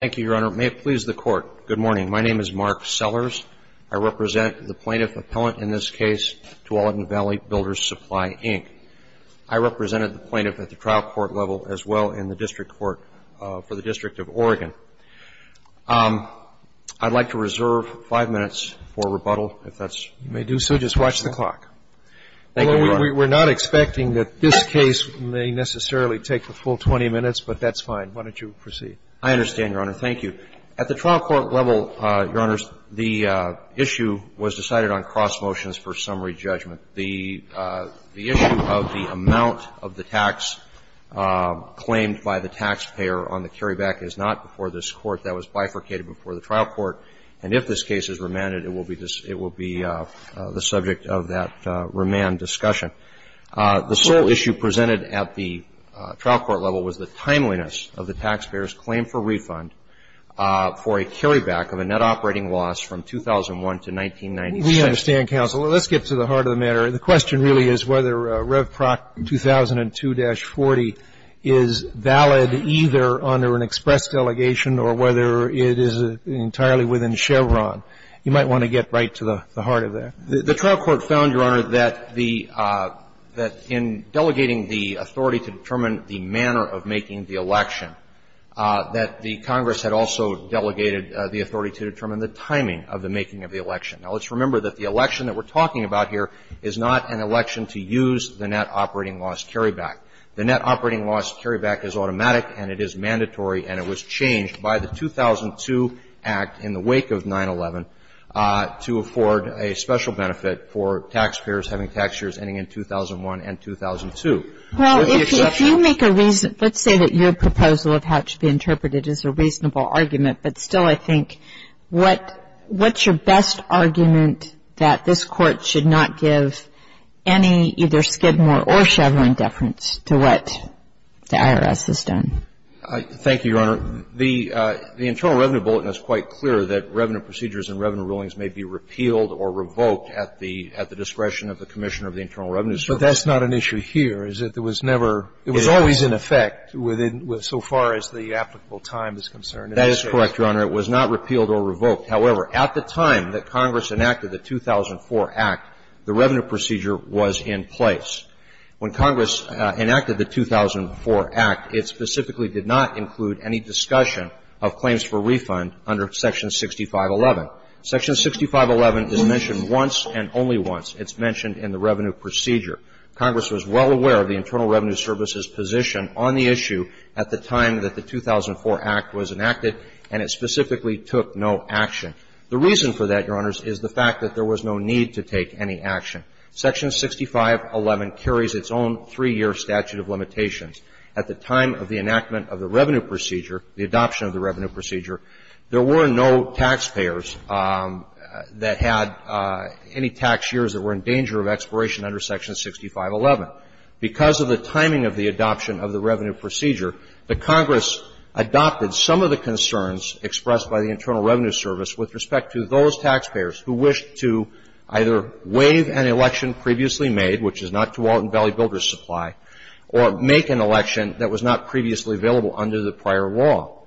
Thank you, Your Honor. May it please the Court, good morning. My name is Mark Sellers. I represent the plaintiff appellant in this case, Tualatin Valley Builders Supply, Inc. I represented the plaintiff at the trial court level as well in the district court for the District of Oregon. I'd like to reserve five minutes for rebuttal, if that's You may do so. Just watch the clock. Thank you, Your Honor. We're not expecting that this case may necessarily take the full 20 minutes, but that's fine. Why don't you proceed? I understand, Your Honor. Thank you. At the trial court level, Your Honors, the issue was decided on cross-motions for summary judgment. The issue of the amount of the tax claimed by the taxpayer on the carryback is not before this Court. That was bifurcated before the trial court. And if this case is remanded, it will be the subject of that remand discussion. The sole issue presented at the trial court level was the timeliness of the taxpayer's claim for refund for a carryback of a net operating loss from 2001 to 1996. We understand, counsel. Let's get to the heart of the matter. The question really is whether Revproc 2002-40 is valid either under an express delegation or whether it is entirely within Chevron. You might want to get right to the heart of that. The trial court found, Your Honor, that the – that in delegating the authority to determine the manner of making the election, that the Congress had also delegated the authority to determine the timing of the making of the election. Now, let's remember that the election that we're talking about here is not an election to use the net operating loss carryback. The net operating loss carryback is automatic and it is mandatory and it was changed by the 2002 Act in the wake of 9-11 to afford a special benefit for taxpayers having tax years ending in 2001 and 2002. Well, if you make a reason – let's say that your proposal of how it should be interpreted is a reasonable argument, but still, I think, what's your best argument that this Court should not give any either Skidmore or Chevron deference to what the IRS has done? Thank you, Your Honor. The Internal Revenue Bulletin is quite clear that revenue procedures and revenue rulings may be repealed or revoked at the discretion of the Commissioner of the Internal Revenue Service. But that's not an issue here, is it? There was never – it was always in effect within – so far as the applicable time is concerned. That is correct, Your Honor. It was not repealed or revoked. However, at the time that Congress enacted the 2004 Act, the revenue procedure was in place. When Congress enacted the 2004 Act, it specifically did not include any discussion of claims for refund under Section 6511. Section 6511 is mentioned once and only once. It's Congress was well aware of the Internal Revenue Service's position on the issue at the time that the 2004 Act was enacted, and it specifically took no action. The reason for that, Your Honors, is the fact that there was no need to take any action. Section 6511 carries its own 3-year statute of limitations. At the time of the enactment of the revenue procedure, the adoption of the revenue procedure, there were no taxpayers that had any tax years that were in danger of expiration under Section 6511. Because of the timing of the adoption of the revenue procedure, the Congress adopted some of the concerns expressed by the Internal Revenue Service with respect to those taxpayers who wished to either waive an election previously made, which is not Tualatin Valley Builders' Supply, or make an election that was not previously available under the prior law.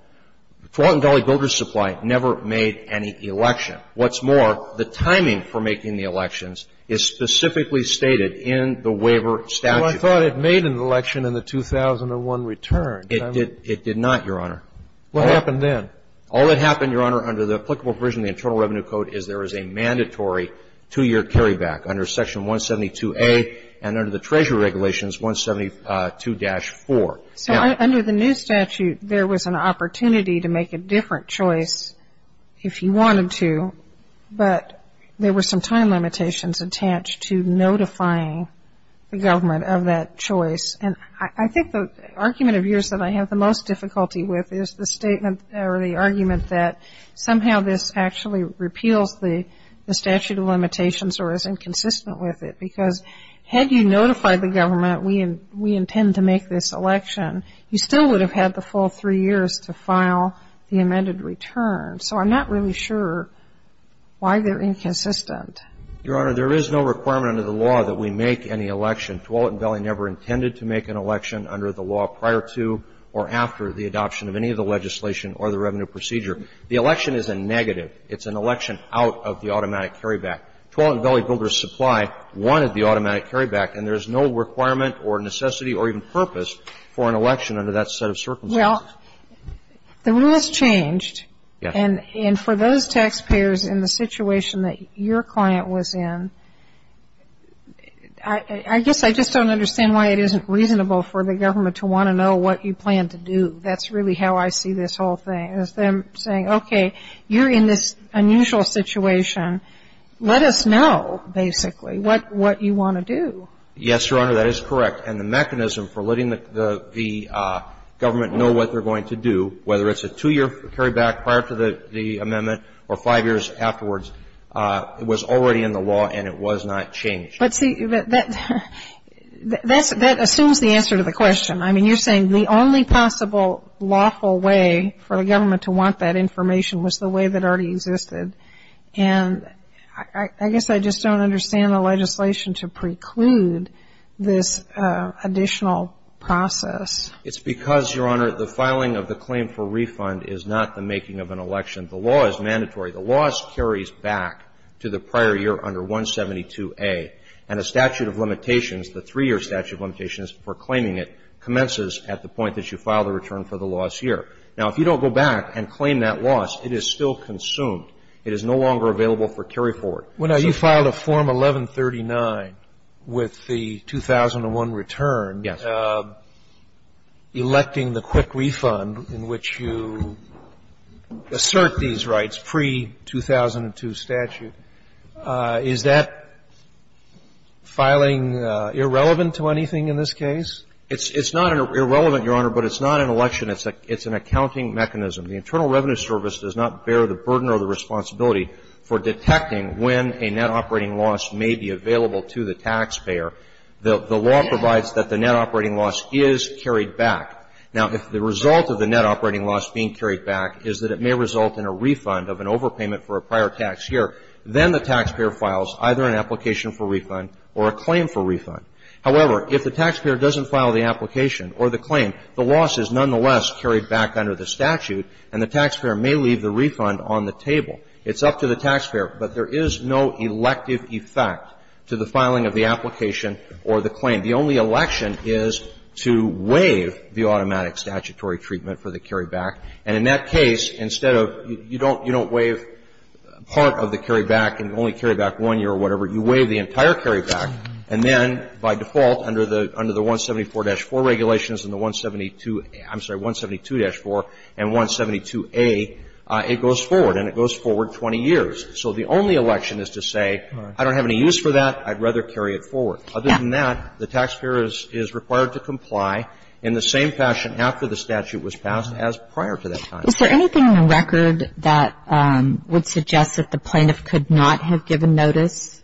Tualatin Valley Builders' Supply never made any election. What's more, the timing for making the elections is specifically stated in the waiver statute. Well, I thought it made an election in the 2001 return. It did not, Your Honor. What happened then? All that happened, Your Honor, under the applicable provision of the Internal Revenue Code is there is a mandatory 2-year carryback under Section 172A and under the Treasury Regulations 172-4. So under the new statute, there was an opportunity to make a different choice if you wanted to, but there were some time limitations attached to notifying the government of that choice. And I think the argument of yours that I have the most difficulty with is the statement or the argument that somehow this actually repeals the statute of limitations or is inconsistent with it. Because had you to make this election, you still would have had the full three years to file the amended return. So I'm not really sure why they're inconsistent. Your Honor, there is no requirement under the law that we make any election. Tualatin Valley never intended to make an election under the law prior to or after the adoption of any of the legislation or the revenue procedure. The election is a negative. It's an election out of the automatic carryback. Tualatin Valley Builders' Supply wanted the automatic carryback, and there's no requirement or necessity or even purpose for an election under that set of circumstances. Well, the rule has changed. Yes. And for those taxpayers in the situation that your client was in, I guess I just don't understand why it isn't reasonable for the government to want to know what you plan to do. That's really how I see this whole thing, is them saying, okay, you're in this unusual situation. Let us know, basically, what you want to do. Yes, Your Honor, that is correct. And the mechanism for letting the government know what they're going to do, whether it's a two-year carryback prior to the amendment or five years afterwards, it was already in the law and it was not changed. But see, that assumes the answer to the question. I mean, you're saying the only possible lawful way for the government to want that information was the way that already existed. And I guess I just don't understand the legislation to preclude this additional process. It's because, Your Honor, the filing of the claim for refund is not the making of an election. The law is mandatory. The law carries back to the prior year under 172A. And a statute of limitations, the three-year statute of limitations for claiming it, commences at the point that you file the return for the lost year. Now, if you don't go back and claim that loss, it is still consumed. It is no longer available for carryforward. Now, you filed a Form 1139 with the 2001 return, electing the quick refund in which you assert these rights pre-2002 statute. Is that filing irrelevant to anything in this case? It's not irrelevant, Your Honor, but it's not an election. It's an accounting mechanism. The Internal Revenue Service does not bear the burden or the responsibility for detecting when a net operating loss may be available to the taxpayer. The law provides that the net operating loss is carried back. Now, if the result of the net operating loss being carried back is that it may result in a refund of an overpayment for a prior tax year, then the taxpayer files either an application for refund or a claim for refund. However, if the taxpayer doesn't file the application or the claim, the loss is nonetheless carried back under the statute, and the taxpayer may leave the refund on the table. It's up to the taxpayer. But there is no elective effect to the filing of the application or the claim. The only election is to waive the automatic statutory treatment for the carryback. And in that case, instead of you don't waive part of the carryback and only carryback one year or whatever, you waive the entire And by default, under the 174-4 regulations and the 172, I'm sorry, 172-4 and 172A, it goes forward, and it goes forward 20 years. So the only election is to say, I don't have any use for that. I'd rather carry it forward. Other than that, the taxpayer is required to comply in the same fashion after the statute was passed as prior to that time. Is there anything in the record that would suggest that the plaintiff could not have given notice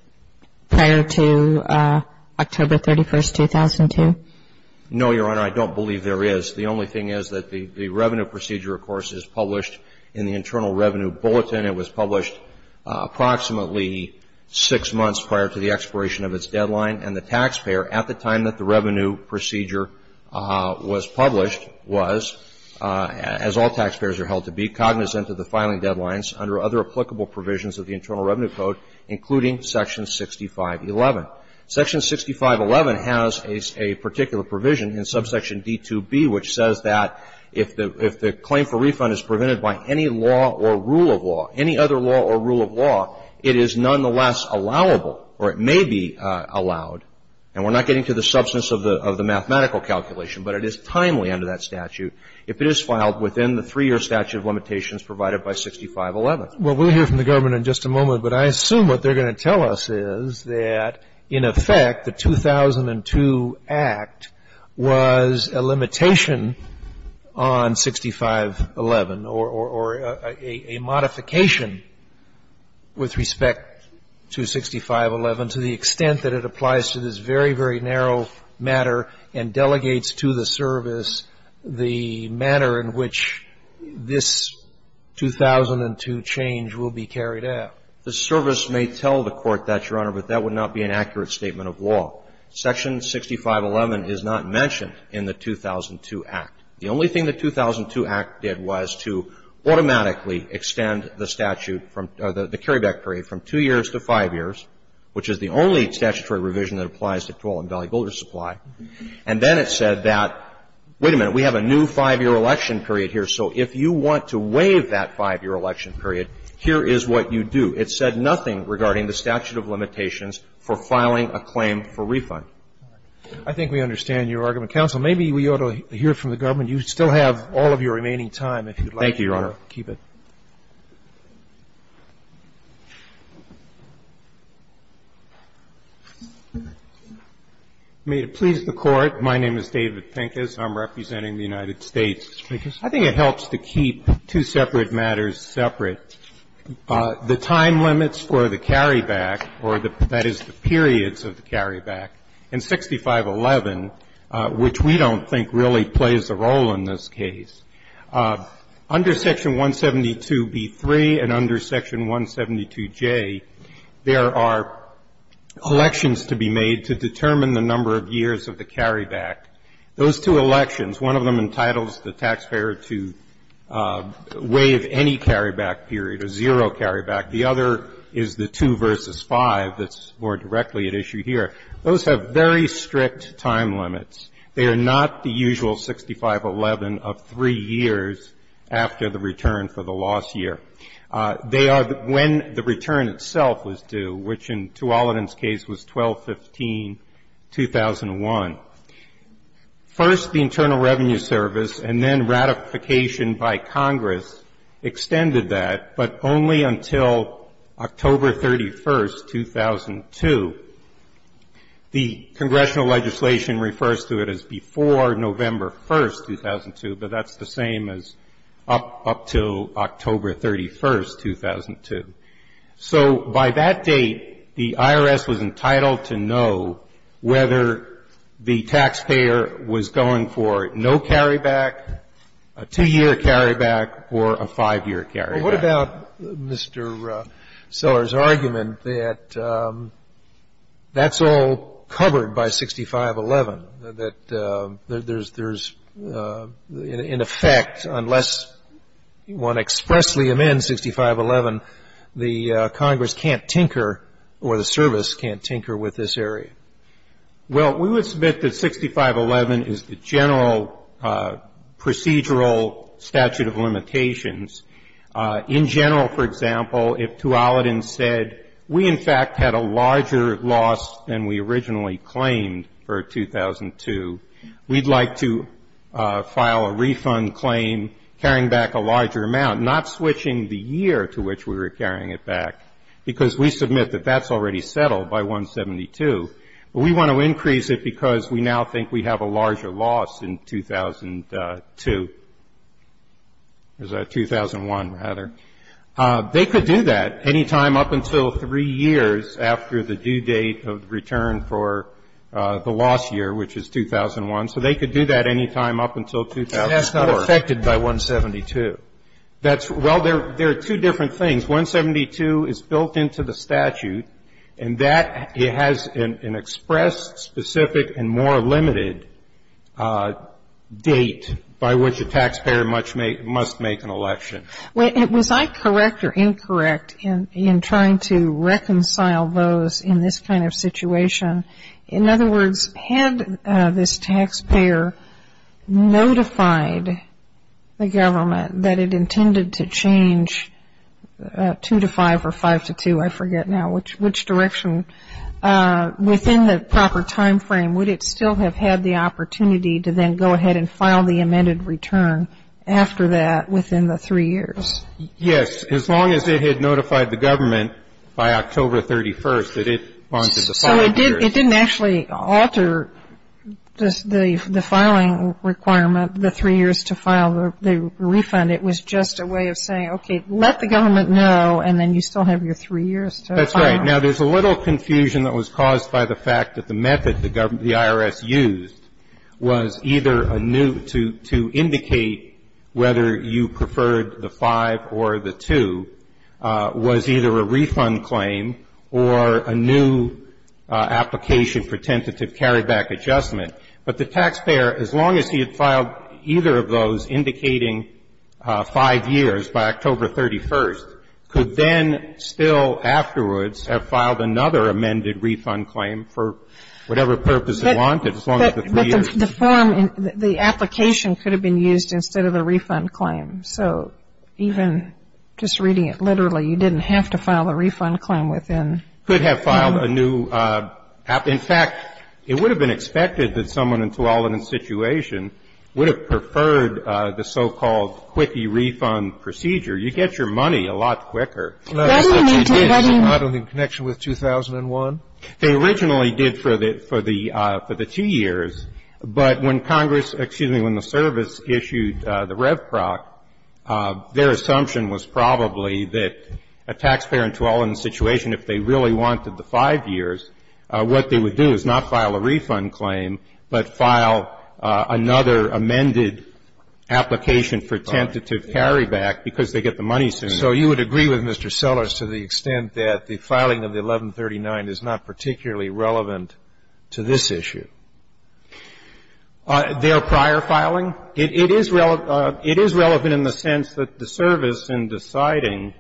prior to October 31, 2002? No, Your Honor. I don't believe there is. The only thing is that the revenue procedure, of course, is published in the Internal Revenue Bulletin. It was published approximately six months prior to the expiration of its deadline. And the taxpayer, at the time that the revenue procedure was published, was, as all taxpayers are held to be, cognizant of the filing deadlines under other applicable provisions of the Internal Revenue Code, including Section 6511. Section 6511 has a particular provision in Subsection D2B, which says that if the claim for refund is prevented by any law or rule of law, any other law or rule of law, it is nonetheless allowable, or it may be allowed. And we're not getting to the substance of the mathematical calculation, but it is timely under that statute. If it is filed within the three-year statute of limitations provided by 6511. Well, we'll hear from the government in just a moment, but I assume what they're going to tell us is that, in effect, the 2002 Act was a limitation on 6511, or a modification with respect to 6511, to the extent that it applies to this very, very narrow matter and delegates to the service the manner in which this 2002 change will be carried out. The service may tell the Court that, Your Honor, but that would not be an accurate statement of law. Section 6511 is not mentioned in the 2002 Act. The only thing the 2002 Act did was to automatically extend the statute from the carryback period from two years to five years, which is the only statutory revision that applies to total Silicon Valley builder supply. And then it said that, wait a minute, we have a new five-year election period here, so if you want to waive that five-year election period, here is what you do. It said nothing regarding the statute of limitations for filing a claim for refund. I think we understand your argument. Counsel, maybe we ought to hear from the government. You still have all of your remaining time, if you'd like to keep it. Thank you, Your Honor. Pincus. May it please the Court, my name is David Pincus. I'm representing the United States. I think it helps to keep two separate matters separate. The time limits for the carryback, or that is the periods of the carryback, in 6511, which we don't think really plays a role in this case, under Section 172B3 and under Section 172J, there are elections to be made to determine the number of years of the carryback. Those two elections, one of them entitles the taxpayer to waive any carryback period, a zero carryback. The other is the two versus five that's more directly at issue here. Those have very strict time limits. They are not the usual 6511 of three years after the return for the loss year. They are when the return itself was due, which in Tuolumne's case was 12-15-2001. First the Internal Revenue Service and then ratification by Congress extended that, but only until October 31, 2002. The congressional legislation refers to it as before November 1, 2002, but that's the same as up to October 31, 2002. So by that date, the IRS was entitled to know whether the taxpayer was going for no carryback, a two-year carryback, or a five-year carryback. Well, what about Mr. Seller's argument that that's all covered by 6511, that there's an effect unless one expressly amends 6511, the Congress can't tinker or the service can't tinker with this area? Well, we would submit that 6511 is the general procedural statute of limitations in general. For example, if Tuolumne said we, in fact, had a larger loss than we originally claimed for 2002, we'd like to file a refund claim carrying back a larger amount, not switching the year to which we were carrying it back, because we submit that that's already settled by 172. But we want to increase it because we now think we have a larger loss in 2002. Is that 2001, rather? They could do that any time up until three years after the due date of return for the loss year, which is 2001. So they could do that any time up until 2004. But that's not affected by 172. That's well, there are two different things. 172 is built into the statute, and that has an expressed, specific, and more limited date by which a taxpayer must make an election. Was I correct or incorrect in trying to reconcile those in this kind of situation? In other words, had this taxpayer notified the government that it intended to change 2 to 5 or 5 to 2, I forget now, which direction, within the proper timeframe, would it still have had the opportunity to then go ahead and file the amended return after that within the three years? Yes. As long as it had notified the government by October 31st that it wanted the five years. So it didn't actually alter the filing requirement, the three years to file the refund. It was just a way of saying, okay, let the government know, and then you still have your three years to file. That's right. Now, there's a little confusion that was caused by the fact that the method the IRS used was either a new to indicate whether you preferred the 5 or the 2 was either a refund claim or a new application for tentative carryback adjustment. But the taxpayer, as long as he had filed either of those indicating five years by October 31st, could then still afterwards have filed another amended refund claim for whatever purpose he wanted, as long as the three years. But the form, the application could have been used instead of the refund claim. So even just reading it literally, you didn't have to file the refund claim within. You could have filed a new. In fact, it would have been expected that someone in Tuolumne's situation would have preferred the so-called quickie refund procedure. You get your money a lot quicker. That's what you did. Isn't that in connection with 2001? They originally did for the two years. But when Congress, excuse me, when the service issued the RevProc, their assumption was probably that a taxpayer in Tuolumne's situation, if they really wanted the five years, what they would do is not file a refund claim, but file another amended application for tentative carryback because they get the money sooner. So you would agree with Mr. Sellers to the extent that the filing of the 1139 is not particularly relevant to this issue? Their prior filing? It is relevant in the sense that the service, in deciding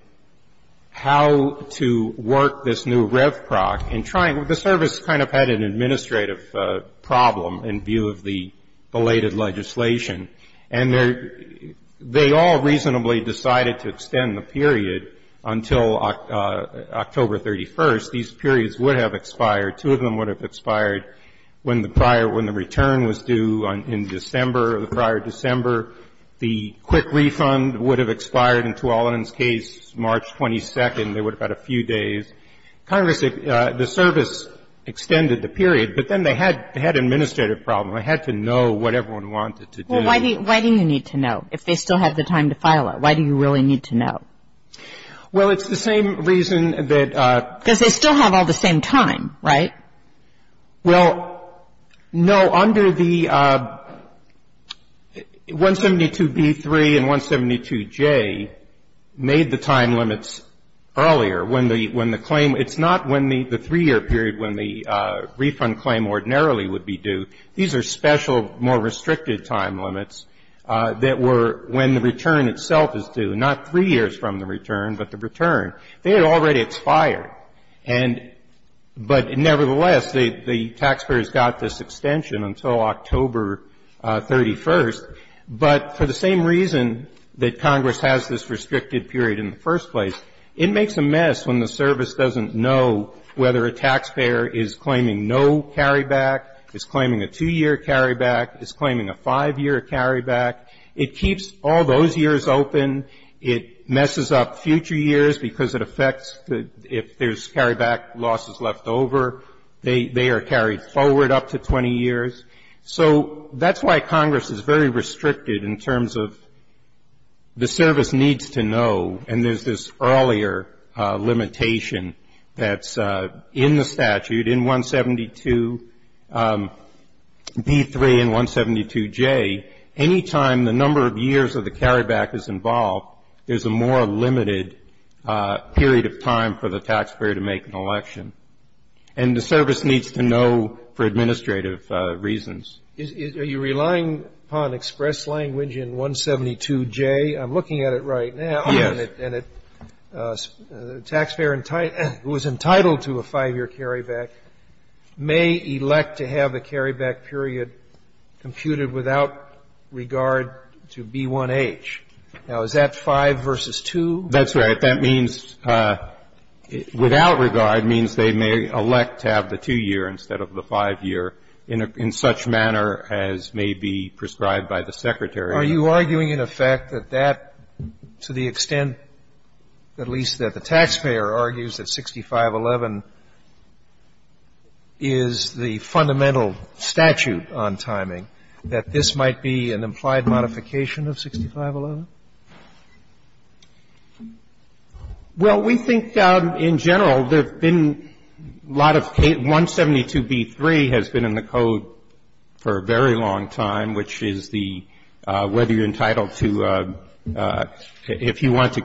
how to work this new RevProc and trying to – the service kind of had an administrative problem in view of the belated legislation. And they all reasonably decided to extend the period until October 31st. These periods would have expired. Two of them would have expired when the prior – when the return was due in December, the prior December. The quick refund would have expired in Tuolumne's case March 22nd. They would have had a few days. Congress, the service extended the period, but then they had an administrative problem. They had to know what everyone wanted to do. Well, why do you need to know if they still have the time to file it? Why do you really need to know? Well, it's the same reason that – Because they still have all the same time, right? Well, no, under the 172b3 and 172j made the time limits earlier. When the claim – it's not when the three-year period when the refund claim ordinarily would be due. These are special, more restricted time limits that were when the return itself is due, not three years from the return, but the return. They had already expired. And – but nevertheless, the taxpayers got this extension until October 31st. But for the same reason that Congress has this restricted period in the first place, it makes a mess when the service doesn't know whether a taxpayer is claiming no carryback, is claiming a two-year carryback, is claiming a five-year carryback. It keeps all those years open. It messes up future years because it affects if there's carryback losses left over. They are carried forward up to 20 years. So that's why Congress is very restricted in terms of the service needs to know, and there's this earlier limitation that's in the statute, in 172b3 and 172j, any time the number of years of the carryback is involved, there's a more limited period of time for the taxpayer to make an election. And the service needs to know for administrative reasons. Are you relying upon express language in 172j? I'm looking at it right now. Yes. And a taxpayer who is entitled to a five-year carryback may elect to have a carryback period computed without regard to B1H. Now, is that 5 v. 2? That's right. That means, without regard, means they may elect to have the two-year instead of the five-year in such manner as may be prescribed by the Secretary. Are you arguing in effect that that, to the extent at least that the taxpayer argues that 6511 is the fundamental statute on timing, that this might be an implied modification of 6511? Well, we think in general there have been a lot of 172b3 has been in the Code for a period, whether you're entitled to, if you want to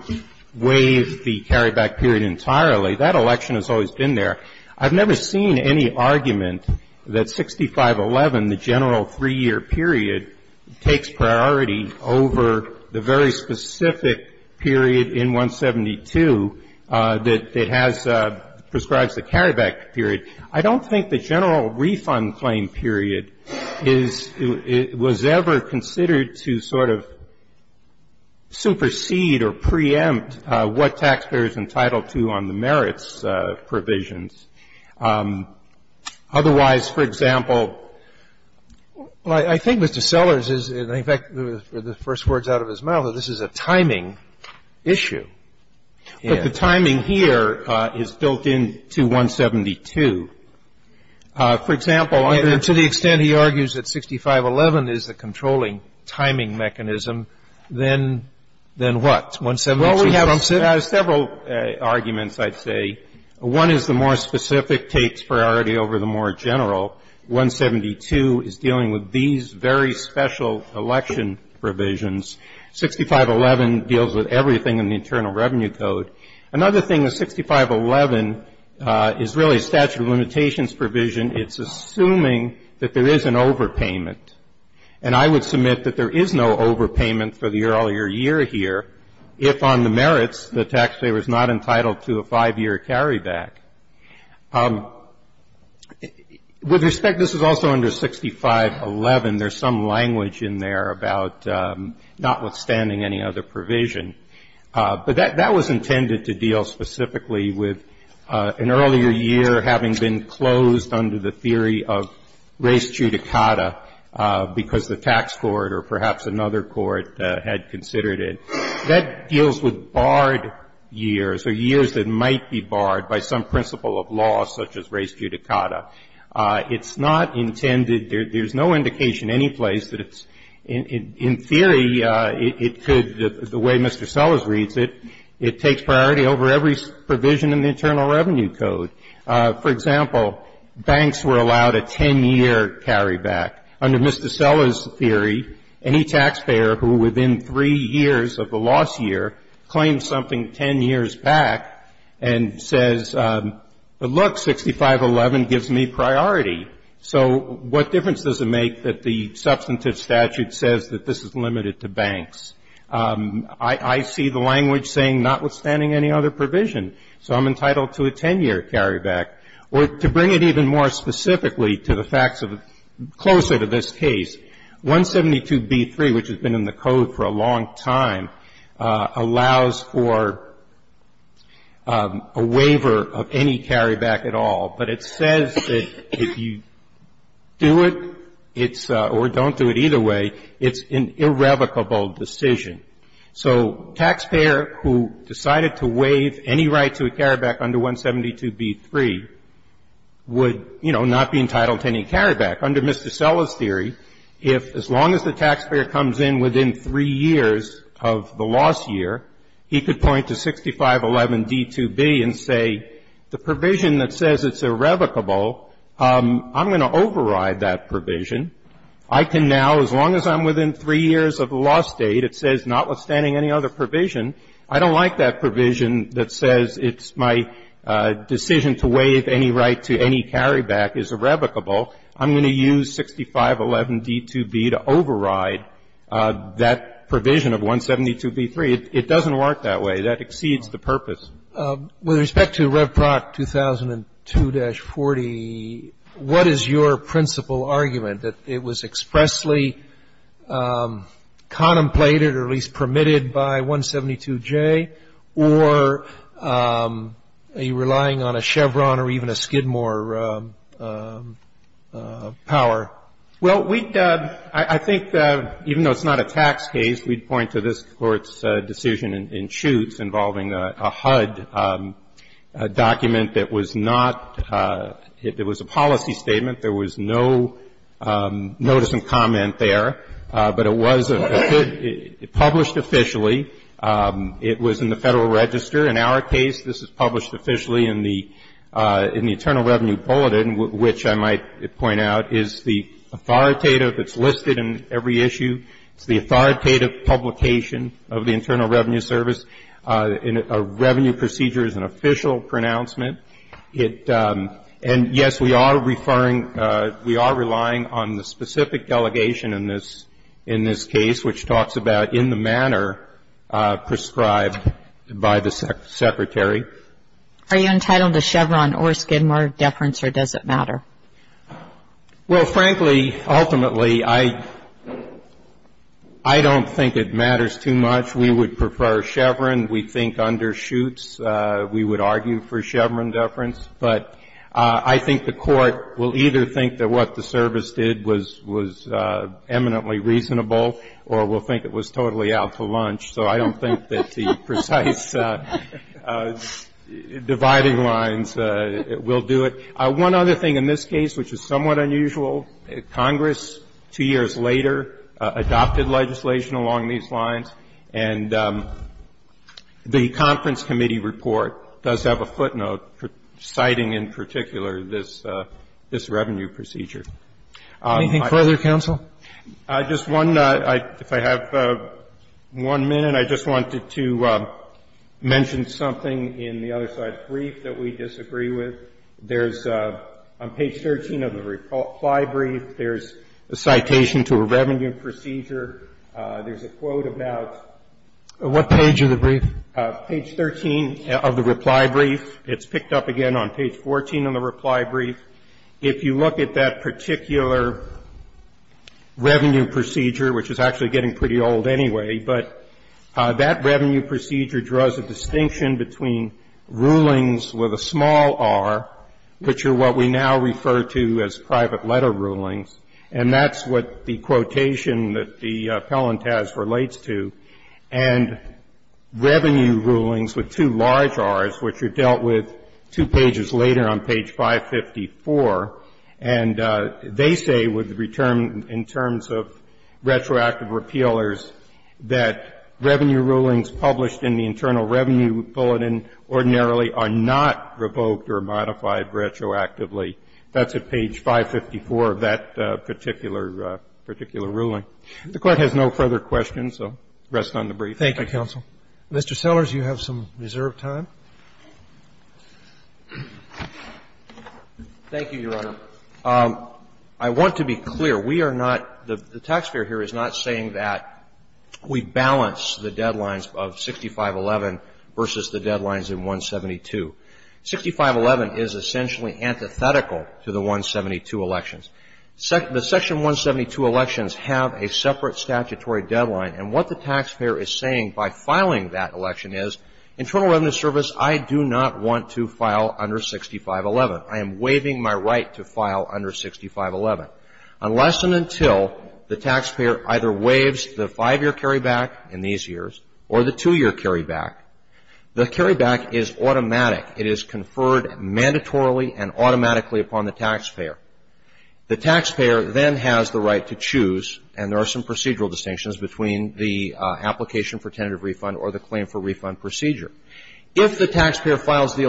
waive the carryback period entirely. That election has always been there. I've never seen any argument that 6511, the general three-year period, takes priority over the very specific period in 172 that prescribes the carryback period. I don't think the general refund claim period was ever considered to sort of supersede or preempt what taxpayers are entitled to on the merits provisions. Otherwise, for example, I think Mr. Sellers is, in effect, with the first words out of his mouth, that this is a timing issue. But the timing here is built into 172. For example, to the extent he argues that 6511 is the controlling timing mechanism, then what? Well, we have several arguments, I'd say. One is the more specific takes priority over the more general. 172 is dealing with these very special election provisions. 6511 deals with everything in the Internal Revenue Code. Another thing is 6511 is really a statute of limitations provision. It's assuming that there is an overpayment. And I would submit that there is no overpayment for the earlier year here if on the merits the taxpayer is not entitled to a five-year carryback. With respect, this is also under 6511. There's some language in there about notwithstanding any other provision. But that was intended to deal specifically with an earlier year having been closed under the theory of res judicata because the tax court or perhaps another court had considered it. That deals with barred years or years that might be barred by some principle of law such as res judicata. It's not intended, there's no indication any place that it's, in theory, it could, the way Mr. Sellers reads it, it takes priority over every provision in the Internal Revenue Code. For example, banks were allowed a 10-year carryback. Under Mr. Sellers' theory, any taxpayer who within three years of the loss year claims something 10 years back and says, but look, 6511 gives me priority. So what difference does it make that the substantive statute says that this is limited to banks? I see the language saying notwithstanding any other provision. So I'm entitled to a 10-year carryback. Or to bring it even more specifically to the facts of, closer to this case, 172b3, which has been in the Code for a long time, allows for a waiver of any carryback at all. But it says that if you do it, it's, or don't do it either way, it's an irrevocable decision. So a taxpayer who decided to waive any right to a carryback under 172b3 would, you know, not be entitled to any carryback. Under Mr. Sellers' theory, if, as long as the taxpayer comes in within three years of the loss year, he could point to 6511d2b and say, the provision that says it's irrevocable, I'm going to override that provision. I can now, as long as I'm within three years of the loss date, it says notwithstanding any other provision, I don't like that provision that says it's my decision to waive any right to any carryback is irrevocable. I'm going to use 6511d2b to override that provision of 172b3. It doesn't work that way. That exceeds the purpose. With respect to Revproc 2002-40, what is your principal argument, that it was expressly contemplated or at least permitted by 172j, or are you relying on a Chevron or even a Skidmore power? Well, we'd – I think even though it's not a tax case, we'd point to this Court's decision in Schutz involving a HUD document that was not – it was a policy statement. There was no notice and comment there. But it was a – it published officially. It was in the Federal Register. In our case, this is published officially in the – in the Internal Revenue Bulletin, which I might point out is the authoritative – it's listed in every issue. It's the authoritative publication of the Internal Revenue Service. A revenue procedure is an official pronouncement. It – and, yes, we are referring – we are relying on the specific delegation in this case, which talks about in the manner prescribed by the Secretary. Are you entitled to Chevron or Skidmore deference, or does it matter? Well, frankly, ultimately, I – I don't think it matters too much. We would prefer Chevron. We think undershoots. We would argue for Chevron deference. But I think the Court will either think that what the service did was – was eminently reasonable or will think it was totally out for lunch. So I don't think that the precise dividing lines will do it. One other thing in this case which is somewhat unusual, Congress, two years later, adopted legislation along these lines. And the conference committee report does have a footnote citing in particular this – this revenue procedure. Anything further, counsel? Just one. If I have one minute, I just wanted to mention something in the other side of the brief that we disagree with. There's – on page 13 of the reply brief, there's a citation to a revenue procedure. There's a quote about – What page of the brief? Page 13 of the reply brief. It's picked up again on page 14 of the reply brief. If you look at that particular revenue procedure, which is actually getting pretty old anyway, but that revenue procedure draws a distinction between rulings with a small R, which are what we now refer to as private letter rulings. And that's what the quotation that the appellant has relates to. And revenue rulings with two large Rs, which are dealt with two pages later on page 554, and they say with – in terms of retroactive repealers, that revenue rulings published in the Internal Revenue Bulletin ordinarily are not revoked or modified retroactively. That's at page 554 of that particular – particular ruling. The Court has no further questions, so rest on the brief. Thank you, counsel. Mr. Sellers, you have some reserved time. Thank you, Your Honor. I want to be clear. We are not – the taxpayer here is not saying that we balance the deadlines of 6511 versus the deadlines in 172. 6511 is essentially antithetical to the 172 elections. The section 172 elections have a separate statutory deadline, and what the taxpayer is saying by filing that election is, Internal Revenue Service, I do not want to file under 6511. I am waiving my right to file under 6511. Unless and until the taxpayer either waives the five-year carryback in these mandatorily and automatically upon the taxpayer. The taxpayer then has the right to choose, and there are some procedural distinctions between the application for tentative refund or the claim for refund procedure. If the taxpayer files the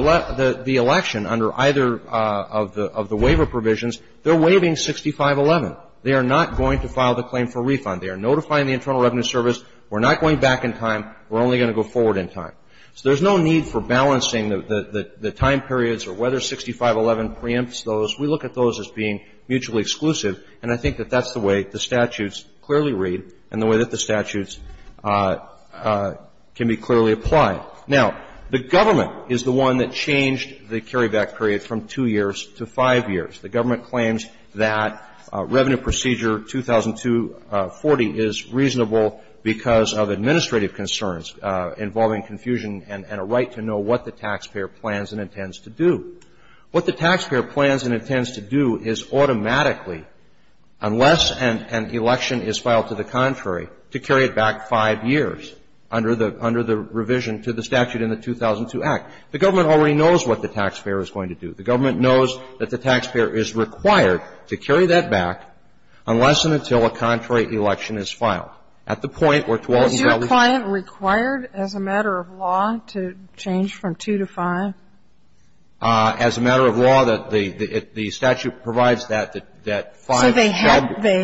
election under either of the waiver provisions, they're waiving 6511. They are not going to file the claim for refund. They are notifying the Internal Revenue Service, we're not going back in time, we're only going to go forward in time. So there's no need for balancing the time periods or whether 6511 preempts those. We look at those as being mutually exclusive, and I think that that's the way the statutes clearly read and the way that the statutes can be clearly applied. Now, the government is the one that changed the carryback period from two years to five years. The government claims that Revenue Procedure 2002-40 is reasonable because of administrative concerns involving confusion and a right to know what the taxpayer plans and intends to do. What the taxpayer plans and intends to do is automatically, unless an election is filed to the contrary, to carry it back five years under the revision to the statute in the 2002 Act. The government already knows what the taxpayer is going to do. The government knows that the taxpayer is required to carry that back unless and until a contrary election is filed. At the point where 2000- Was your client required as a matter of law to change from two to five? As a matter of law, the statute provides that five should be.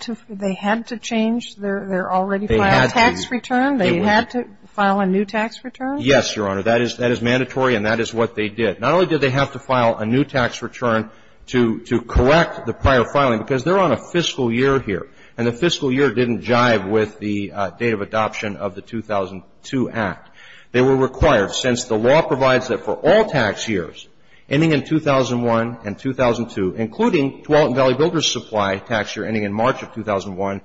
So they had to change their already filed tax return? They had to file a new tax return? Yes, Your Honor. That is mandatory, and that is what they did. Not only did they have to file a new tax return to correct the prior filing, because they're on a fiscal year here, and the fiscal year didn't jive with the date of adoption of the 2002 Act. They were required, since the law provides that for all tax years ending in 2001 and 2002, including Tualatin Valley Builders Supply tax year ending in March of 2001,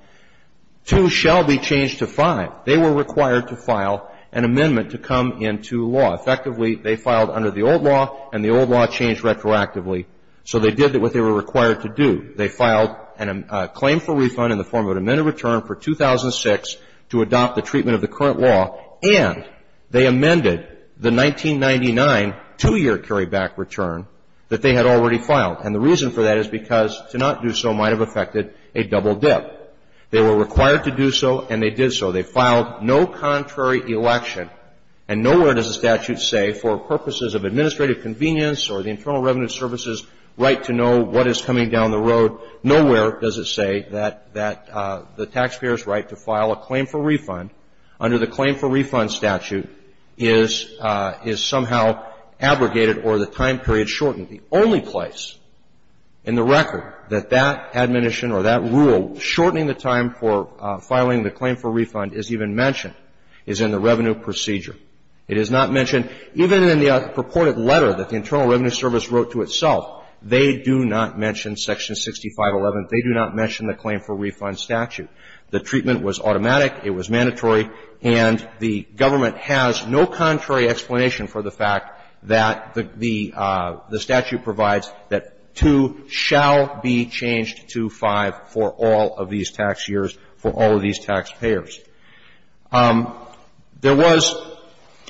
two shall be changed to five. They were required to file an amendment to come into law. Effectively, they filed under the old law, and the old law changed retroactively. So they did what they were required to do. They filed a claim for refund in the form of an amended return for 2006 to adopt the treatment of the current law, and they amended the 1999 two-year carryback return that they had already filed. And the reason for that is because to not do so might have affected a double dip. They were required to do so, and they did so. They filed no contrary election, and nowhere does the statute say for purposes of administrative convenience or the Internal Revenue Service's right to know what is coming down the road, nowhere does it say that the taxpayer's right to file a claim for refund under the claim for refund statute is somehow abrogated or the time period shortened. The only place in the record that that admonition or that rule shortening the time for filing the claim for refund is even mentioned is in the revenue procedure. It is not mentioned even in the purported letter that the Internal Revenue Service wrote to itself. They do not mention section 6511. They do not mention the claim for refund statute. The treatment was automatic. It was mandatory. And the government has no contrary explanation for the fact that the statute provides that 2 shall be changed to 5 for all of these tax years for all of these taxpayers. There was,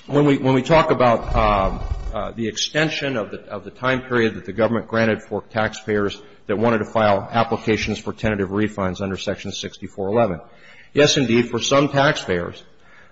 when we talk about the extension of the time period that the government granted for taxpayers that wanted to file applications for tentative refunds under section 6411, yes, indeed, for some taxpayers,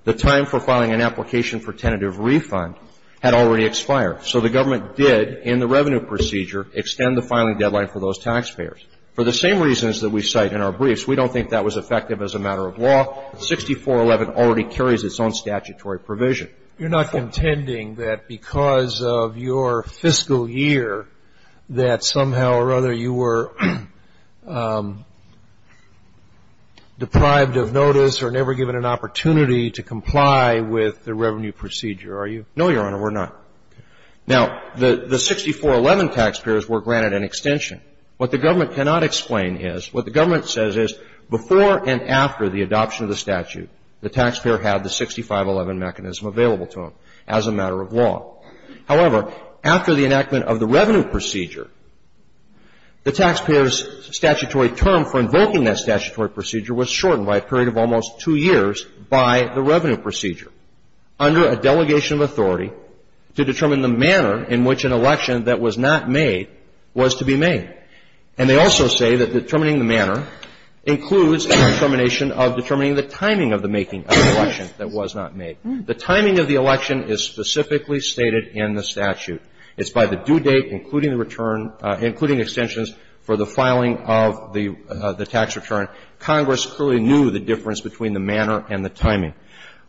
the time for filing an application for tentative refund had already expired. So the government did, in the revenue procedure, extend the filing deadline for those taxpayers. For the same reasons that we cite in our briefs, we don't think that was effective as a matter of law. 6411 already carries its own statutory provision. You're not contending that because of your fiscal year that somehow or other you were deprived of notice or never given an opportunity to comply with the revenue procedure, are you? No, Your Honor, we're not. Now, the 6411 taxpayers were granted an extension. What the government cannot explain is, what the government says is before and after the adoption of the statute, the taxpayer had the 6511 mechanism available to them as a matter of law. However, after the enactment of the revenue procedure, the taxpayer's statutory term for invoking that statutory procedure was shortened by a period of almost 2 years by the revenue procedure under a delegation of authority to determine the manner in which an election that was not made was to be made. And they also say that determining the manner includes a determination of determining the timing of the making of the election that was not made. The timing of the election is specifically stated in the statute. It's by the due date, including the return, including extensions for the filing of the tax return. Congress clearly knew the difference between the manner and the timing.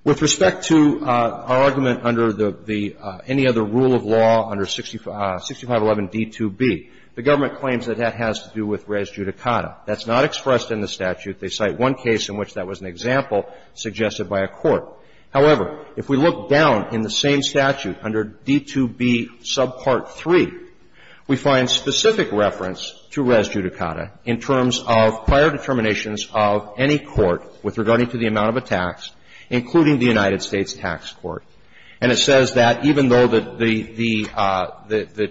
With respect to our argument under the any other rule of law under 6511 D2B, the government claims that that has to do with res judicata. That's not expressed in the statute. They cite one case in which that was an example suggested by a court. However, if we look down in the same statute under D2B subpart 3, we find specific reference to res judicata in terms of prior determinations of any court with regarding to the amount of a tax, including the United States Tax Court. And it says that even though the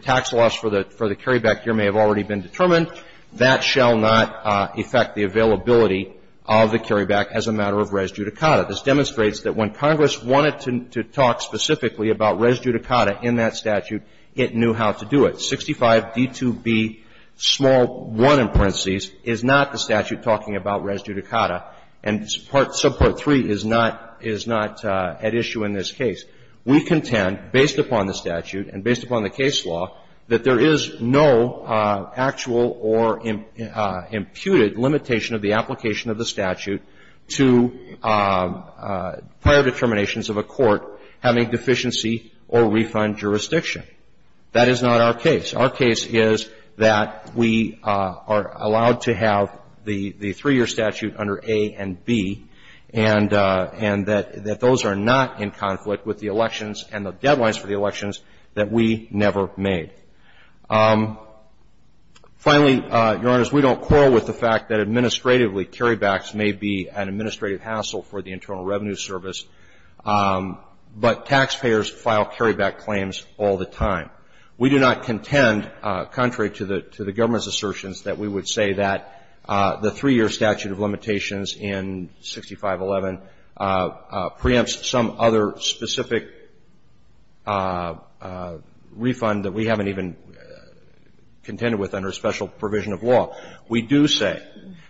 tax loss for the carryback here may have already been determined, that shall not affect the availability of the carryback as a matter of res judicata. This demonstrates that when Congress wanted to talk specifically about res judicata in that statute, it knew how to do it. 65D2B1 is not the statute talking about res judicata. And subpart 3 is not at issue in this case. We contend, based upon the statute and based upon the case law, that there is no actual or imputed limitation of the application of the statute to prior determinations of a court having deficiency or refund jurisdiction. That is not our case. Our case is that we are allowed to have the three-year statute under A and B, and that those are not in conflict with the elections and the deadlines for the elections that we never made. Finally, Your Honors, we don't quarrel with the fact that administratively carrybacks may be an administrative hassle for the Internal Revenue Service, but taxpayers file carryback claims all the time. We do not contend, contrary to the government's assertions, that we would say that the three-year statute of limitations in 6511 preempts some other specific refund that we haven't even contended with under special provision of law. We do say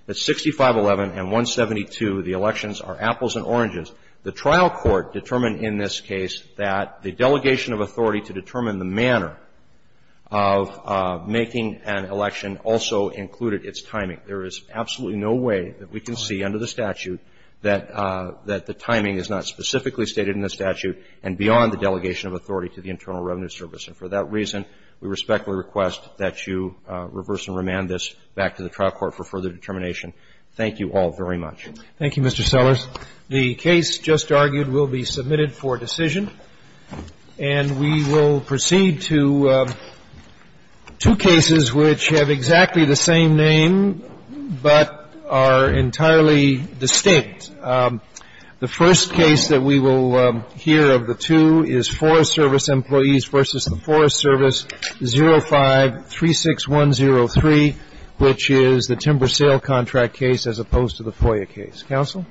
that 6511 and 172, the elections, are apples and oranges. The trial court determined in this case that the delegation of authority to determine the manner of making an election also included its timing. There is absolutely no way that we can see under the statute that the timing is not specifically stated in the statute and beyond the delegation of authority to the Internal Revenue Service, and for that reason, we respectfully request that you reverse and remand this back to the trial court for further determination. Thank you all very much. Thank you, Mr. Sellers. The case just argued will be submitted for decision, and we will proceed to two cases which have exactly the same name but are entirely distinct. The first case that we will hear of the two is Forest Service Employees v. the Forest Service, 05-36103, which is the timber sale contract case as opposed to the FOIA case. Counsel?